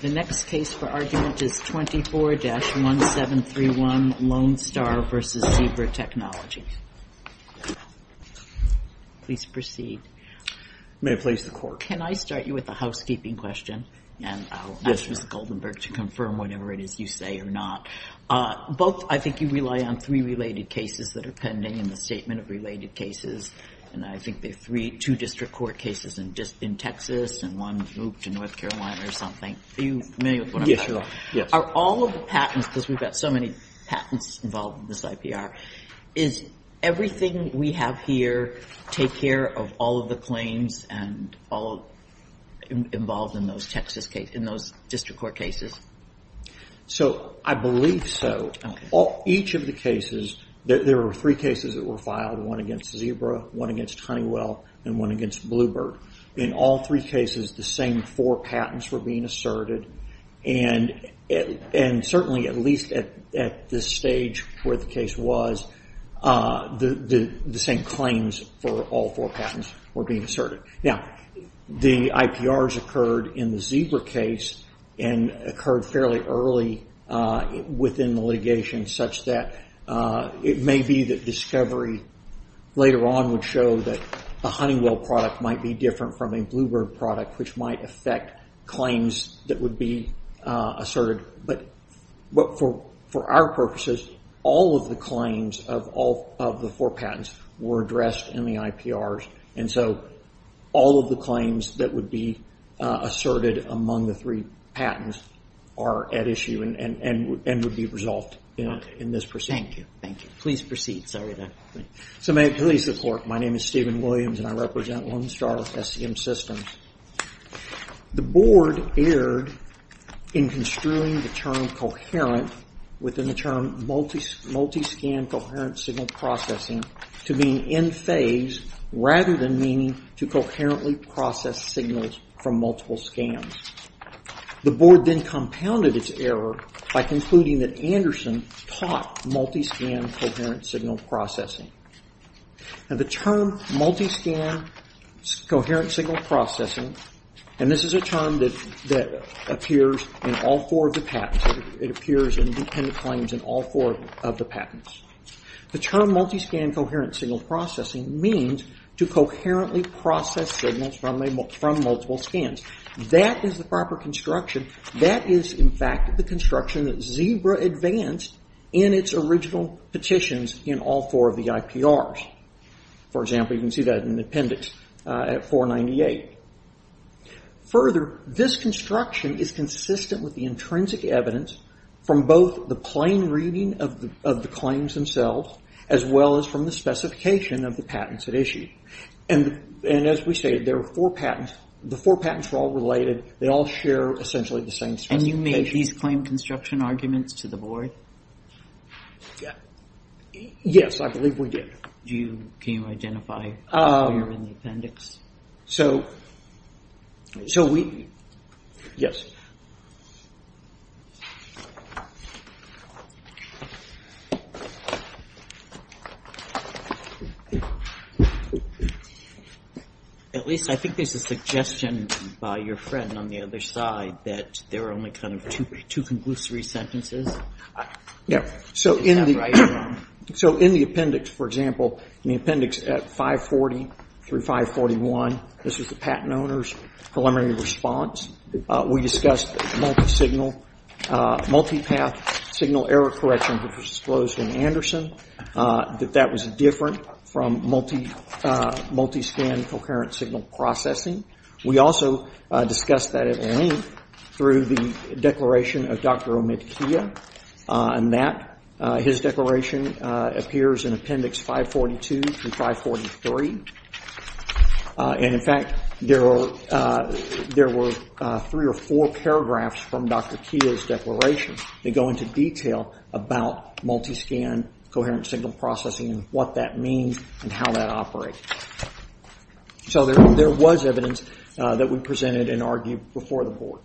The next case for argument is 24-1731, Lone Star v. Zebra Technologies. Please proceed. May I please the court? Can I start you with a housekeeping question, and I'll ask Mr. Goldenberg to confirm whatever it is you say or not. Both, I think you rely on three related cases that are pending in the statement of related cases, and I think there are two district court cases in Texas and one moved to North Carolina or something. Are you familiar with what I'm talking about? Yes, you are. Are all of the patents, because we've got so many patents involved in this IPR, is everything we have here take care of all of the claims and all involved in those district court cases? I believe so. There were three cases that were filed, one against Zebra, one against Honeywell, and one against Bluebird. In all three cases, the same four patents were being asserted, and certainly at least at this stage where the case was, the same claims for all four patents were being asserted. Now, the IPRs occurred in the Zebra case and occurred fairly early within the litigation such that it may be that discovery later on would show that a Honeywell product might be different from a Bluebird product, which might affect claims that would be asserted. But for our purposes, all of the claims of all of the four patents were addressed in the IPRs. And so all of the claims that would be asserted among the three patents are at issue and would be resolved in this proceeding. Thank you. Thank you. Please proceed. Sorry about that. So may it please the Court, my name is Stephen Williams, and I represent Lone Star with SCM Systems. The Board erred in construing the term coherent within the term multi-scan coherent signal processing to mean in phase rather than meaning to coherently process signals from multiple scans. The Board then compounded its error by concluding that Anderson taught multi-scan coherent signal processing. Now, the term multi-scan coherent signal processing, and this is a term that appears in all four of the patents. The term multi-scan coherent signal processing means to coherently process signals from multiple scans. That is the proper construction. That is, in fact, the construction that Zebra advanced in its original petitions in all four of the IPRs. For example, you can see that in the appendix at 498. Further, this construction is consistent with the intrinsic evidence from both the plain reading of the claims themselves as well as from the specification of the patents at issue. And as we say, there are four patents. The four patents are all related. They all share essentially the same specification. And you made these claim construction arguments to the Board? Yes, I believe we did. Can you identify where in the appendix? So we – yes. At least I think there's a suggestion by your friend on the other side that there are only kind of two conclusory sentences. So in the appendix, for example, in the appendix at 540 through 541, this was the patent owner's preliminary response. We discussed multi-signal, multi-path signal error correction, which was disclosed in Anderson, that that was different from multi-scan coherent signal processing. We also discussed that at length through the declaration of Dr. Omid Kia, and that his declaration appears in appendix 542 through 543. And in fact, there were three or four paragraphs from Dr. Kia's declaration that go into detail about multi-scan coherent signal processing and what that means and how that operates. So there was evidence that we presented and argued before the Board.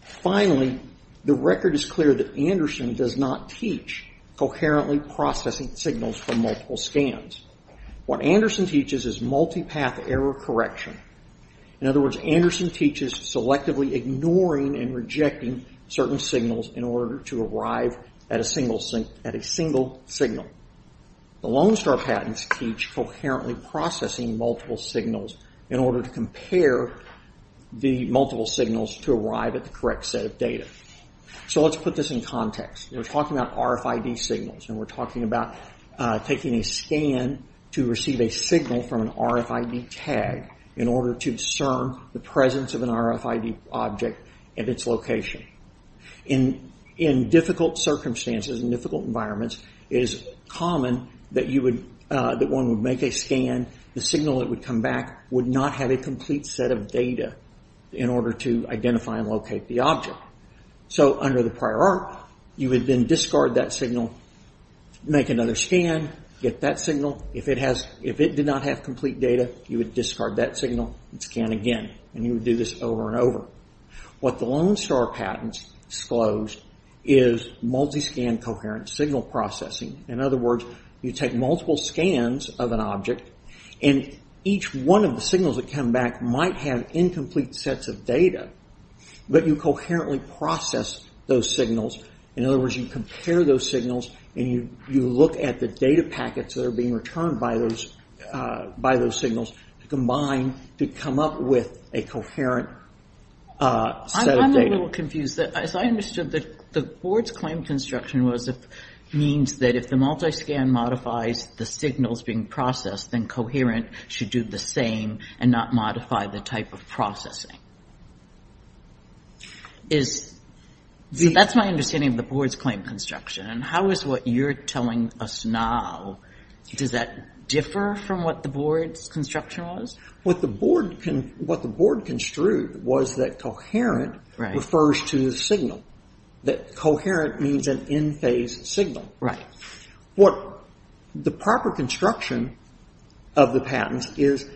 Finally, the record is clear that Anderson does not teach coherently processing signals from multiple scans. What Anderson teaches is multi-path error correction. In other words, Anderson teaches selectively ignoring and rejecting certain signals in order to arrive at a single signal. The Lone Star patents teach coherently processing multiple signals in order to compare the multiple signals to arrive at the correct set of data. So let's put this in context. We're talking about RFID signals, and we're talking about taking a scan to receive a signal from an RFID tag in order to discern the presence of an RFID object and its location. In difficult circumstances and difficult environments, it is common that one would make a scan, the signal that would come back would not have a complete set of data in order to identify and locate the object. So under the prior art, you would then discard that signal, make another scan, get that signal. If it did not have complete data, you would discard that signal and scan again. You would do this over and over. What the Lone Star patents disclosed is multi-scan coherent signal processing. In other words, you take multiple scans of an object, and each one of the signals that come back might have incomplete sets of data, but you coherently process those signals. In other words, you compare those signals, and you look at the data packets that are being returned by those signals to combine to come up with a coherent set of data. I'm a little confused. As I understood, the board's claim construction means that if the multi-scan modifies the signals being processed, then coherent should do the same and not modify the type of processing. So that's my understanding of the board's claim construction, and how is what you're telling us now, does that differ from what the board's construction was? What the board construed was that coherent refers to the signal, that coherent means an in-phase signal. Right. What the proper construction of the patents is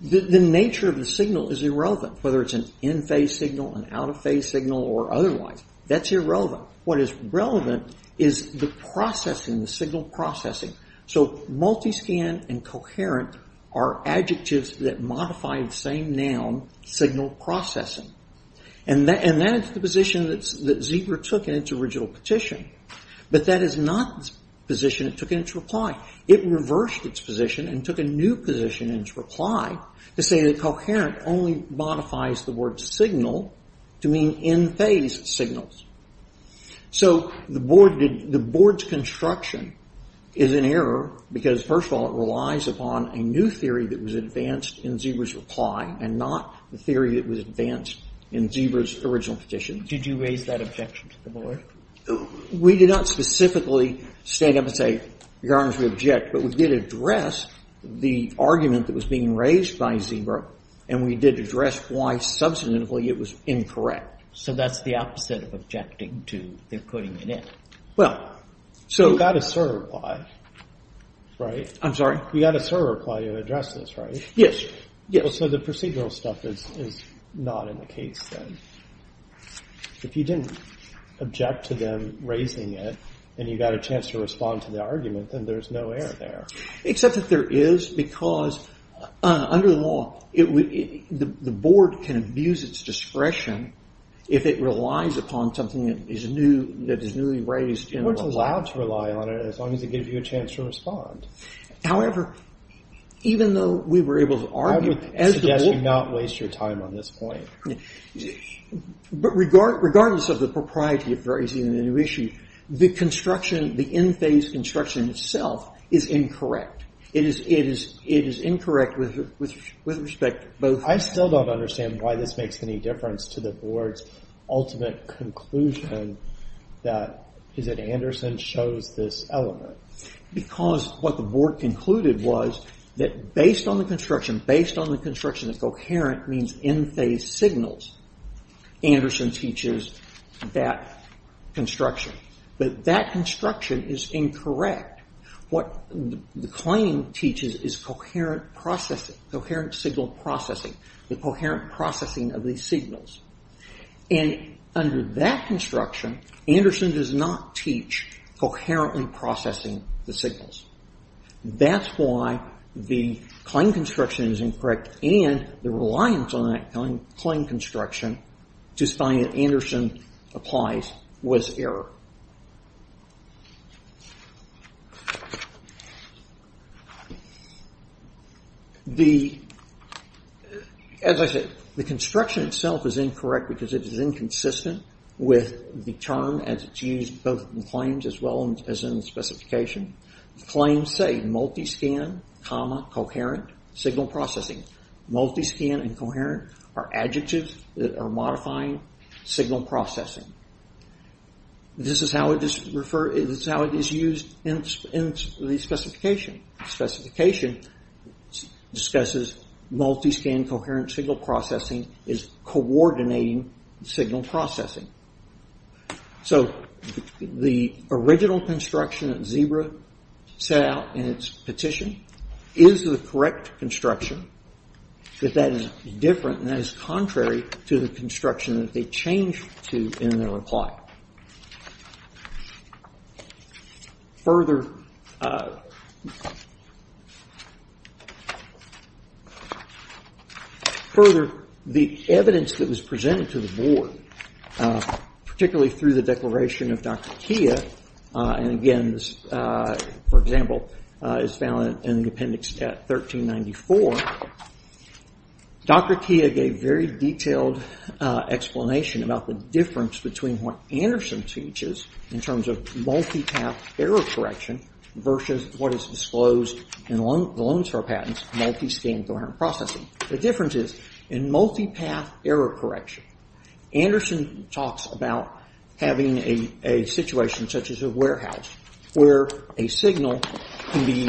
the nature of the signal is irrelevant, whether it's an in-phase signal, an out-of-phase signal, or otherwise. That's irrelevant. What is relevant is the processing, the signal processing. So multi-scan and coherent are adjectives that modify the same noun, signal processing. And that is the position that Zebra took in its original petition, but that is not the position it took in its reply. It reversed its position and took a new position in its reply to say that coherent only modifies the word signal to mean in-phase signals. So the board's construction is an error because, first of all, it relies upon a new theory that was advanced in Zebra's reply and not the theory that was advanced in Zebra's original petition. Did you raise that objection to the board? We did not specifically stand up and say, Your Honor, we object, but we did address the argument that was being raised by Zebra and we did address why, subsequently, it was incorrect. So that's the opposite of objecting to their putting it in. Well, so we got a sort of reply, right? I'm sorry? We got a sort of reply to address this, right? Yes. So the procedural stuff is not in the case, then. If you didn't object to them raising it and you got a chance to respond to the argument, then there's no error there. Except that there is because, under the law, the board can abuse its discretion if it relies upon something that is newly raised. You weren't allowed to rely on it as long as it gave you a chance to respond. However, even though we were able to argue, as the board... I would suggest you not waste your time on this point. But regardless of the propriety of raising a new issue, the in-phase construction itself is incorrect. It is incorrect with respect to both... I still don't understand why this makes any difference to the board's ultimate conclusion that Anderson chose this element. Because what the board concluded was that based on the construction, that coherent means in-phase signals, Anderson teaches that construction. But that construction is incorrect. What the claim teaches is coherent signal processing, the coherent processing of these signals. And under that construction, Anderson does not teach coherently processing the signals. That's why the claim construction is incorrect and the reliance on that claim construction to find that Anderson applies was error. The... As I said, the construction itself is incorrect because it is inconsistent with the term as it's used both in claims as well as in specification. Claims say multi-scan comma coherent signal processing. Multi-scan and coherent are adjectives that are modifying signal processing. This is how it is used in the specification. Specification discusses multi-scan coherent signal processing as coordinating signal processing. So the original construction that Zebra set out in its petition is the correct construction, but that is different and that is contrary to the construction that they changed to in their reply. Further... Particularly through the declaration of Dr. Kia, and again this, for example, is found in the appendix at 1394, Dr. Kia gave very detailed explanation about the difference between what Anderson teaches in terms of multi-path error correction versus what is disclosed in the loans for patents, multi-scan coherent processing. The difference is in multi-path error correction, Anderson talks about having a situation such as a warehouse where a signal can be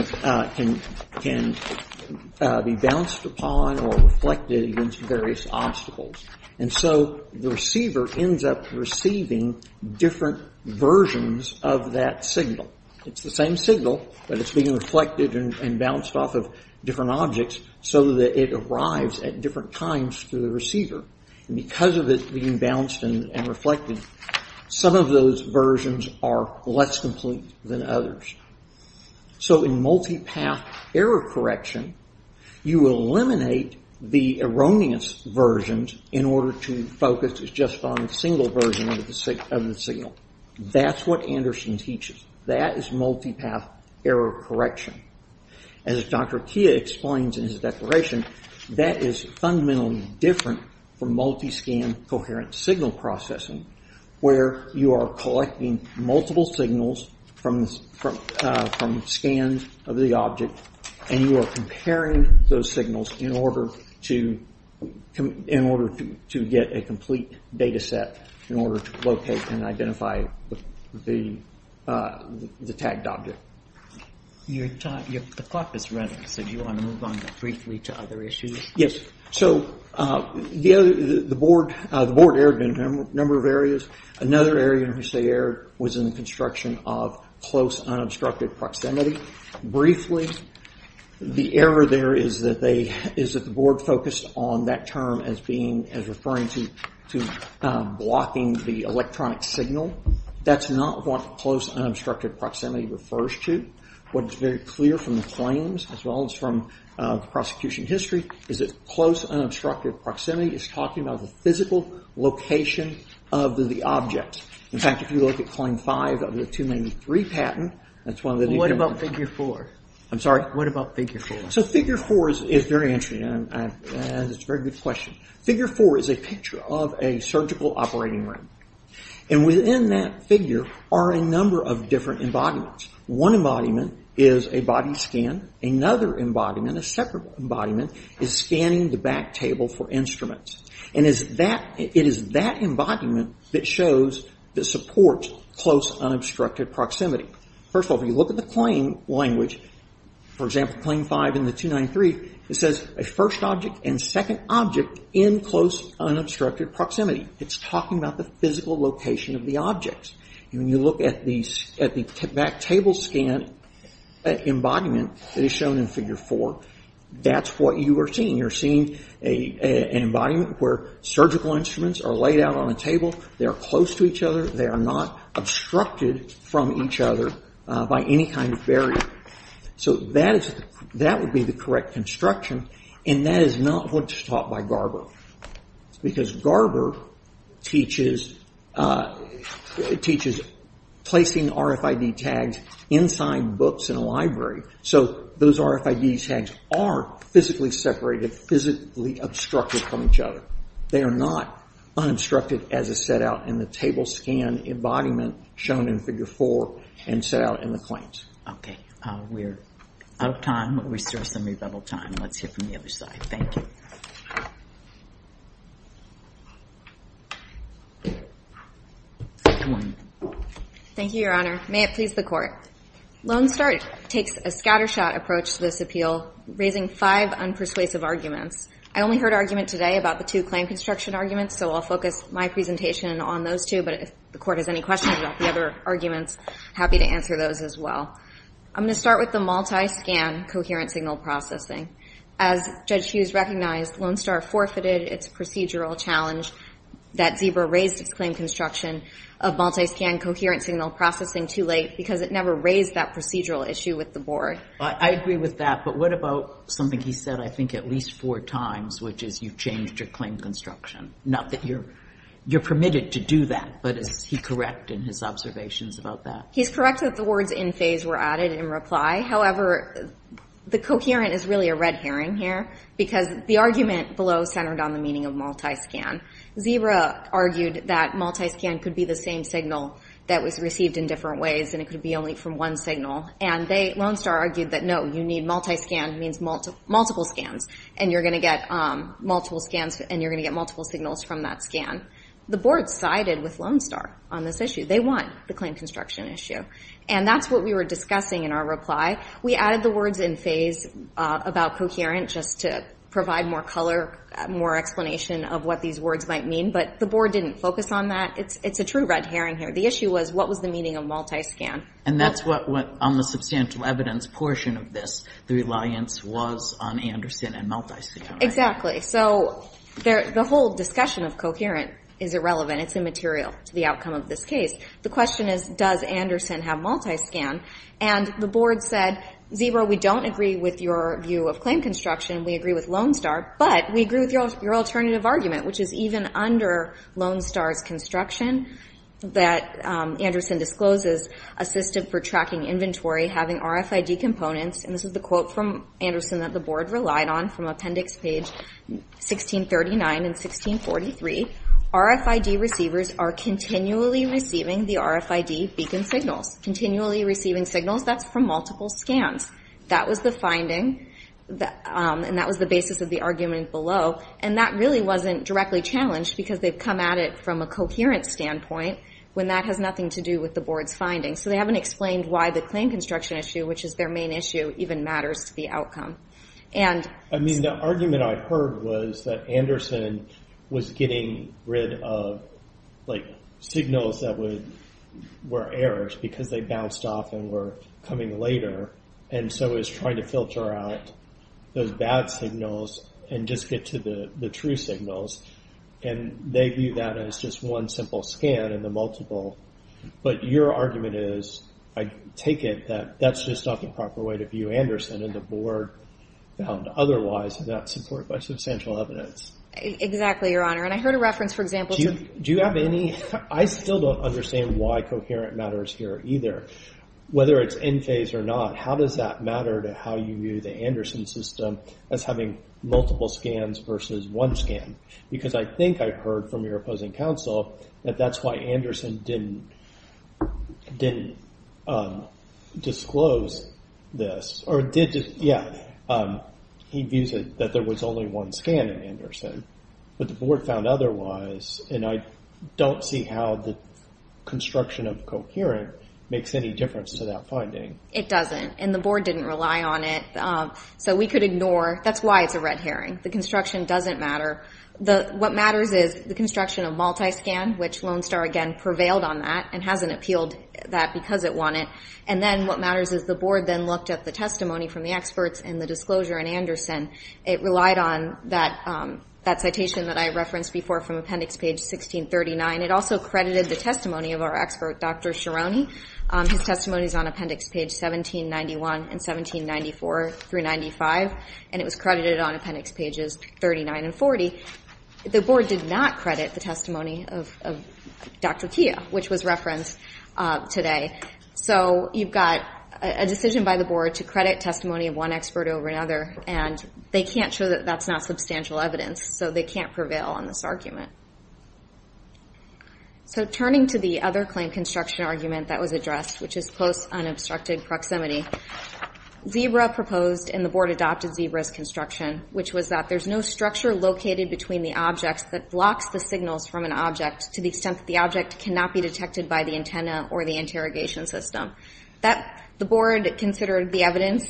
bounced upon or reflected against various obstacles. And so the receiver ends up receiving different versions of that signal. It's the same signal, but it's being reflected and bounced off of different objects so that it arrives at different times to the receiver. And because of it being bounced and reflected, some of those versions are less complete than others. So in multi-path error correction, you eliminate the erroneous versions in order to focus just on a single version of the signal. That's what Anderson teaches. That is multi-path error correction. As Dr. Kia explains in his declaration, that is fundamentally different from multi-scan coherent signal processing where you are collecting multiple signals from scans of the object and you are comparing those signals in order to get a complete data set in order to locate and identify the tagged object. The clock is running. So do you want to move on briefly to other issues? Yes. So the board erred in a number of areas. Another area in which they erred was in the construction of close unobstructed proximity. Briefly, the error there is that the board focused on that term as referring to blocking the electronic signal. That's not what close unobstructed proximity refers to. What is very clear from the claims as well as from the prosecution history is that close unobstructed proximity is talking about the physical location of the object. In fact, if you look at claim 5 of the 293 patent... What about figure 4? I'm sorry? What about figure 4? So figure 4 is very interesting. It's a very good question. Figure 4 is a picture of a surgical operating room. Within that figure are a number of different embodiments. One embodiment is a body scan. Another embodiment, a separate embodiment, is scanning the back table for instruments. It is that embodiment that supports close unobstructed proximity. First of all, if you look at the claim language, for example, claim 5 in the 293, it says a first object and second object in close unobstructed proximity. It's talking about the physical location of the objects. When you look at the back table scan embodiment that is shown in figure 4, that's what you are seeing. You're seeing an embodiment where surgical instruments are laid out on a table. They are close to each other. They are not obstructed from each other by any kind of barrier. So that would be the correct construction, and that is not what's taught by Garber because Garber teaches placing RFID tags inside books in a library. So those RFID tags are physically separated, physically obstructed from each other. They are not unobstructed as is set out in the table scan embodiment shown in figure 4 and set out in the claims. Okay, we're out of time, but we still have some rebuttal time. Let's hear from the other side. Thank you. Second one. Thank you, Your Honor. May it please the Court. Lone Start takes a scattershot approach to this appeal, raising five unpersuasive arguments. I only heard argument today about the two claim construction arguments, so I'll focus my presentation on those two, but if the Court has any questions about the other arguments, happy to answer those as well. I'm going to start with the multi-scan coherent signal processing. As Judge Hughes recognized, Lone Start forfeited its procedural challenge that Zebra raised its claim construction of multi-scan coherent signal processing too late because it never raised that procedural issue with the Board. I agree with that, but what about something he said I think at least four times, which is you've changed your claim construction, not that you're permitted to do that, but is he correct in his observations about that? He's correct that the words in phase were added in reply. However, the coherent is really a red herring here because the argument below centered on the meaning of multi-scan. Zebra argued that multi-scan could be the same signal that was received in different ways and it could be only from one signal, and Lone Start argued that, no, you need multi-scan means multiple scans, and you're going to get multiple signals from that scan. The Board sided with Lone Start on this issue. They won the claim construction issue, and that's what we were discussing in our reply. We added the words in phase about coherent just to provide more color, more explanation of what these words might mean, but the Board didn't focus on that. It's a true red herring here. The issue was what was the meaning of multi-scan. And that's what, on the substantial evidence portion of this, the reliance was on Anderson and multi-scan. Exactly. So the whole discussion of coherent is irrelevant. It's immaterial to the outcome of this case. The question is, does Anderson have multi-scan? And the Board said, Zebra, we don't agree with your view of claim construction. We agree with Lone Start, but we agree with your alternative argument, which is even under Lone Start's construction, that Anderson discloses assistive for tracking inventory, having RFID components, and this is the quote from Anderson that the Board relied on from Appendix Page 1639 and 1643, RFID receivers are continually receiving the RFID beacon signals. Continually receiving signals, that's from multiple scans. That was the finding, and that was the basis of the argument below, and that really wasn't directly challenged because they've come at it from a coherent standpoint when that has nothing to do with the Board's findings. So they haven't explained why the claim construction issue, which is their main issue, even matters to the outcome. The argument I heard was that Anderson was getting rid of signals that were errors because they bounced off and were coming later, and so it was trying to filter out those bad signals and just get to the true signals, and they view that as just one simple scan in the multiple. But your argument is, I take it, that that's just not the proper way to view Anderson, and the Board found otherwise without support by substantial evidence. Exactly, Your Honor, and I heard a reference, for example, to Do you have any – I still don't understand why coherent matters here either. Whether it's in phase or not, how does that matter to how you view the Anderson system as having multiple scans versus one scan? Because I think I've heard from your opposing counsel that that's why Anderson didn't disclose this He views it that there was only one scan in Anderson, but the Board found otherwise, and I don't see how the construction of coherent makes any difference to that finding. It doesn't, and the Board didn't rely on it. So we could ignore – that's why it's a red herring. The construction doesn't matter. What matters is the construction of multi-scan, which Lone Star, again, prevailed on that and hasn't appealed that because it won it. And then what matters is the Board then looked at the testimony from the experts and the disclosure in Anderson. It relied on that citation that I referenced before from Appendix Page 1639. It also credited the testimony of our expert, Dr. Ciarone. His testimony is on Appendix Page 1791 and 1794 through 95, and it was credited on Appendix Pages 39 and 40. The Board did not credit the testimony of Dr. Kia, which was referenced today. So you've got a decision by the Board to credit testimony of one expert over another, and they can't show that that's not substantial evidence, so they can't prevail on this argument. So turning to the other claim construction argument that was addressed, which is close, unobstructed proximity, ZEBRA proposed and the Board adopted ZEBRA's construction, which was that there's no structure located between the objects that blocks the signals from an object to the extent that the object cannot be detected by the antenna or the interrogation system. The Board considered the evidence,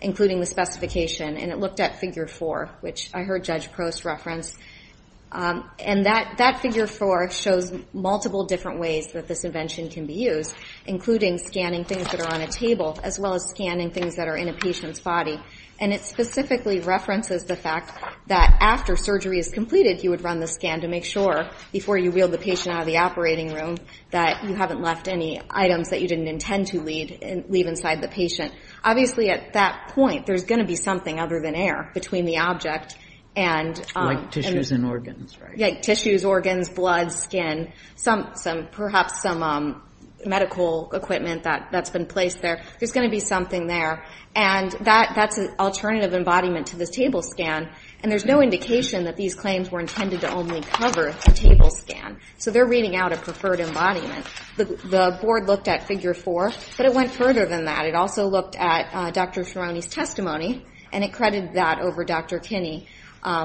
including the specification, and it looked at Figure 4, which I heard Judge Prost reference. And that Figure 4 shows multiple different ways that this invention can be used, including scanning things that are on a table, as well as scanning things that are in a patient's body. And it specifically references the fact that after surgery is completed, you would run the scan to make sure, before you wheel the patient out of the operating room, that you haven't left any items that you didn't intend to leave inside the patient. Obviously, at that point, there's going to be something other than air between the object and Like tissues and organs, right? Yeah, tissues, organs, blood, skin, perhaps some medical equipment that's been placed there. There's going to be something there. And that's an alternative embodiment to the table scan. And there's no indication that these claims were intended to only cover the table scan. So they're reading out a preferred embodiment. The Board looked at Figure 4, but it went further than that. It also looked at Dr. Ferroni's testimony, and it credited that over Dr. Kinney,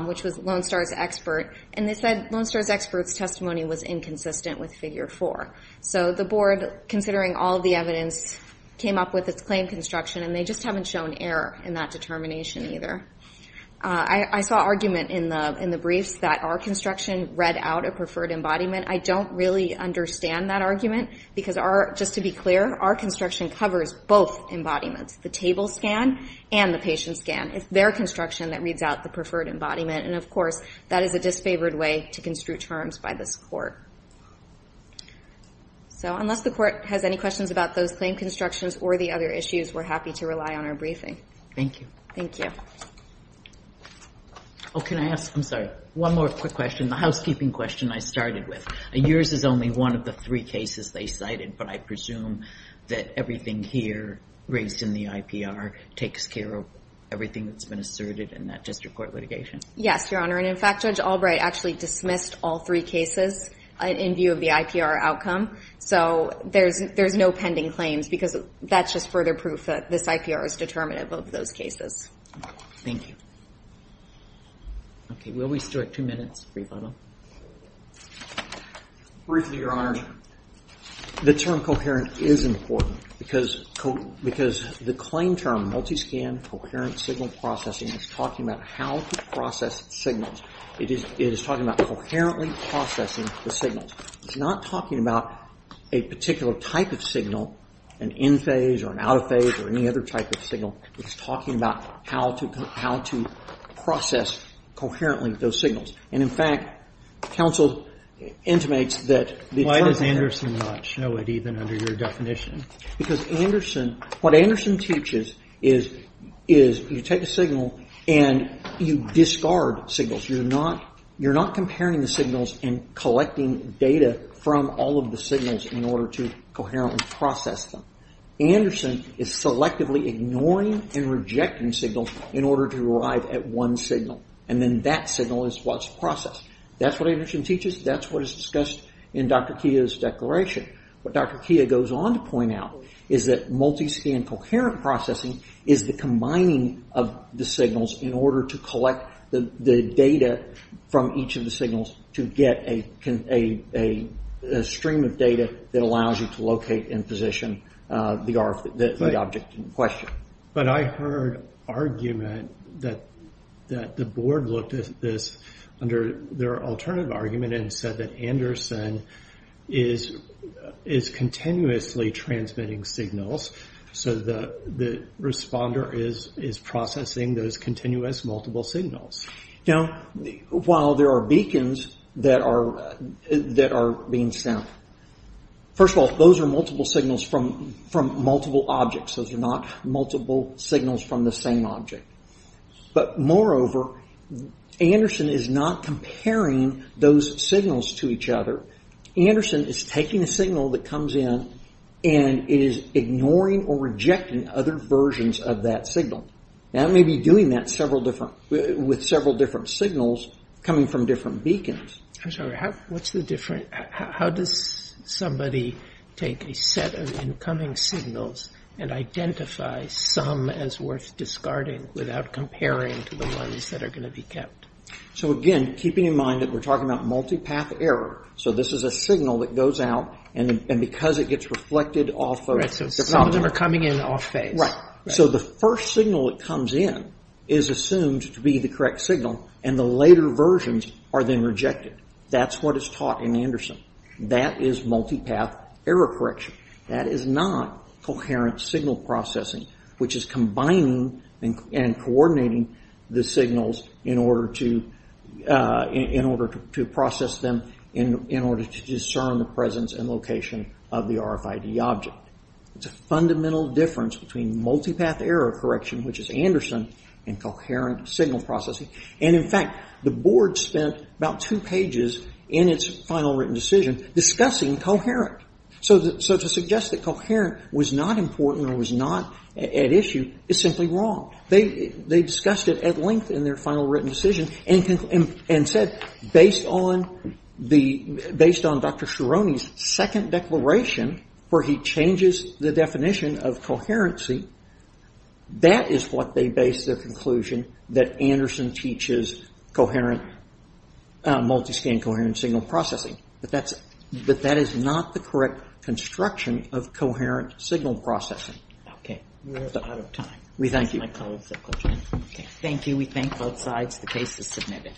which was Lone Star's expert. And they said Lone Star's expert's testimony was inconsistent with Figure 4. So the Board, considering all of the evidence, came up with its claim construction, and they just haven't shown error in that determination either. I saw argument in the briefs that our construction read out a preferred embodiment. I don't really understand that argument because, just to be clear, our construction covers both embodiments, the table scan and the patient scan. It's their construction that reads out the preferred embodiment. And, of course, that is a disfavored way to construe terms by this Court. So unless the Court has any questions about those claim constructions or the other issues, we're happy to rely on our briefing. Thank you. Thank you. Oh, can I ask, I'm sorry, one more quick question, the housekeeping question I started with. Yours is only one of the three cases they cited, but I presume that everything here raised in the IPR takes care of everything that's been asserted in that district court litigation. Yes, Your Honor. And, in fact, Judge Albright actually dismissed all three cases in view of the IPR outcome. So there's no pending claims because that's just further proof that this IPR is determinative. Both of those cases. Thank you. Okay. Will we still have two minutes for your final? Briefly, Your Honor, the term coherent is important because the claim term, multi-scan coherent signal processing, is talking about how to process signals. It is talking about coherently processing the signals. It's not talking about a particular type of signal, an in-phase or an out-of-phase or any other type of signal. It's talking about how to process coherently those signals. And, in fact, counsel intimates that the term... Why does Anderson not show it even under your definition? Because Anderson, what Anderson teaches is you take a signal and you discard signals. You're not comparing the signals and collecting data from all of the signals in order to coherently process them. Anderson is selectively ignoring and rejecting signals in order to arrive at one signal. And then that signal is what's processed. That's what Anderson teaches. That's what is discussed in Dr. Kia's declaration. What Dr. Kia goes on to point out is that multi-scan coherent processing is the combining of the signals in order to collect the data from each of the signals to get a stream of data that allows you to locate and position the object in question. But I heard argument that the board looked at this under their alternative argument and said that Anderson is continuously transmitting signals so the responder is processing those continuous multiple signals. Now, while there are beacons that are being sent, first of all, those are multiple signals from multiple objects. Those are not multiple signals from the same object. But, moreover, Anderson is not comparing those signals to each other. Anderson is taking a signal that comes in and is ignoring or rejecting other versions of that signal. Now, he may be doing that with several different signals coming from different beacons. I'm sorry, how does somebody take a set of incoming signals and identify some as worth discarding without comparing to the ones that are going to be kept? So, again, keeping in mind that we're talking about multi-path error, so this is a signal that goes out and because it gets reflected off of... Right, so some of them are coming in off phase. Right, so the first signal that comes in is assumed to be the correct signal and the later versions are then rejected. That's what is taught in Anderson. That is multi-path error correction. That is not coherent signal processing, which is combining and coordinating the signals in order to process them in order to discern the presence and location of the RFID object. It's a fundamental difference between multi-path error correction, which is Anderson, and coherent signal processing. And, in fact, the board spent about two pages in its final written decision discussing coherent. So to suggest that coherent was not important or was not at issue is simply wrong. They discussed it at length in their final written decision and said, based on Dr. Cerrone's second declaration, where he changes the definition of coherency, that is what they base their conclusion that Anderson teaches coherent, multi-scan coherent signal processing. But that is not the correct construction of coherent signal processing. Okay, we're out of time. We thank you. Thank you. We thank both sides. The case is submitted.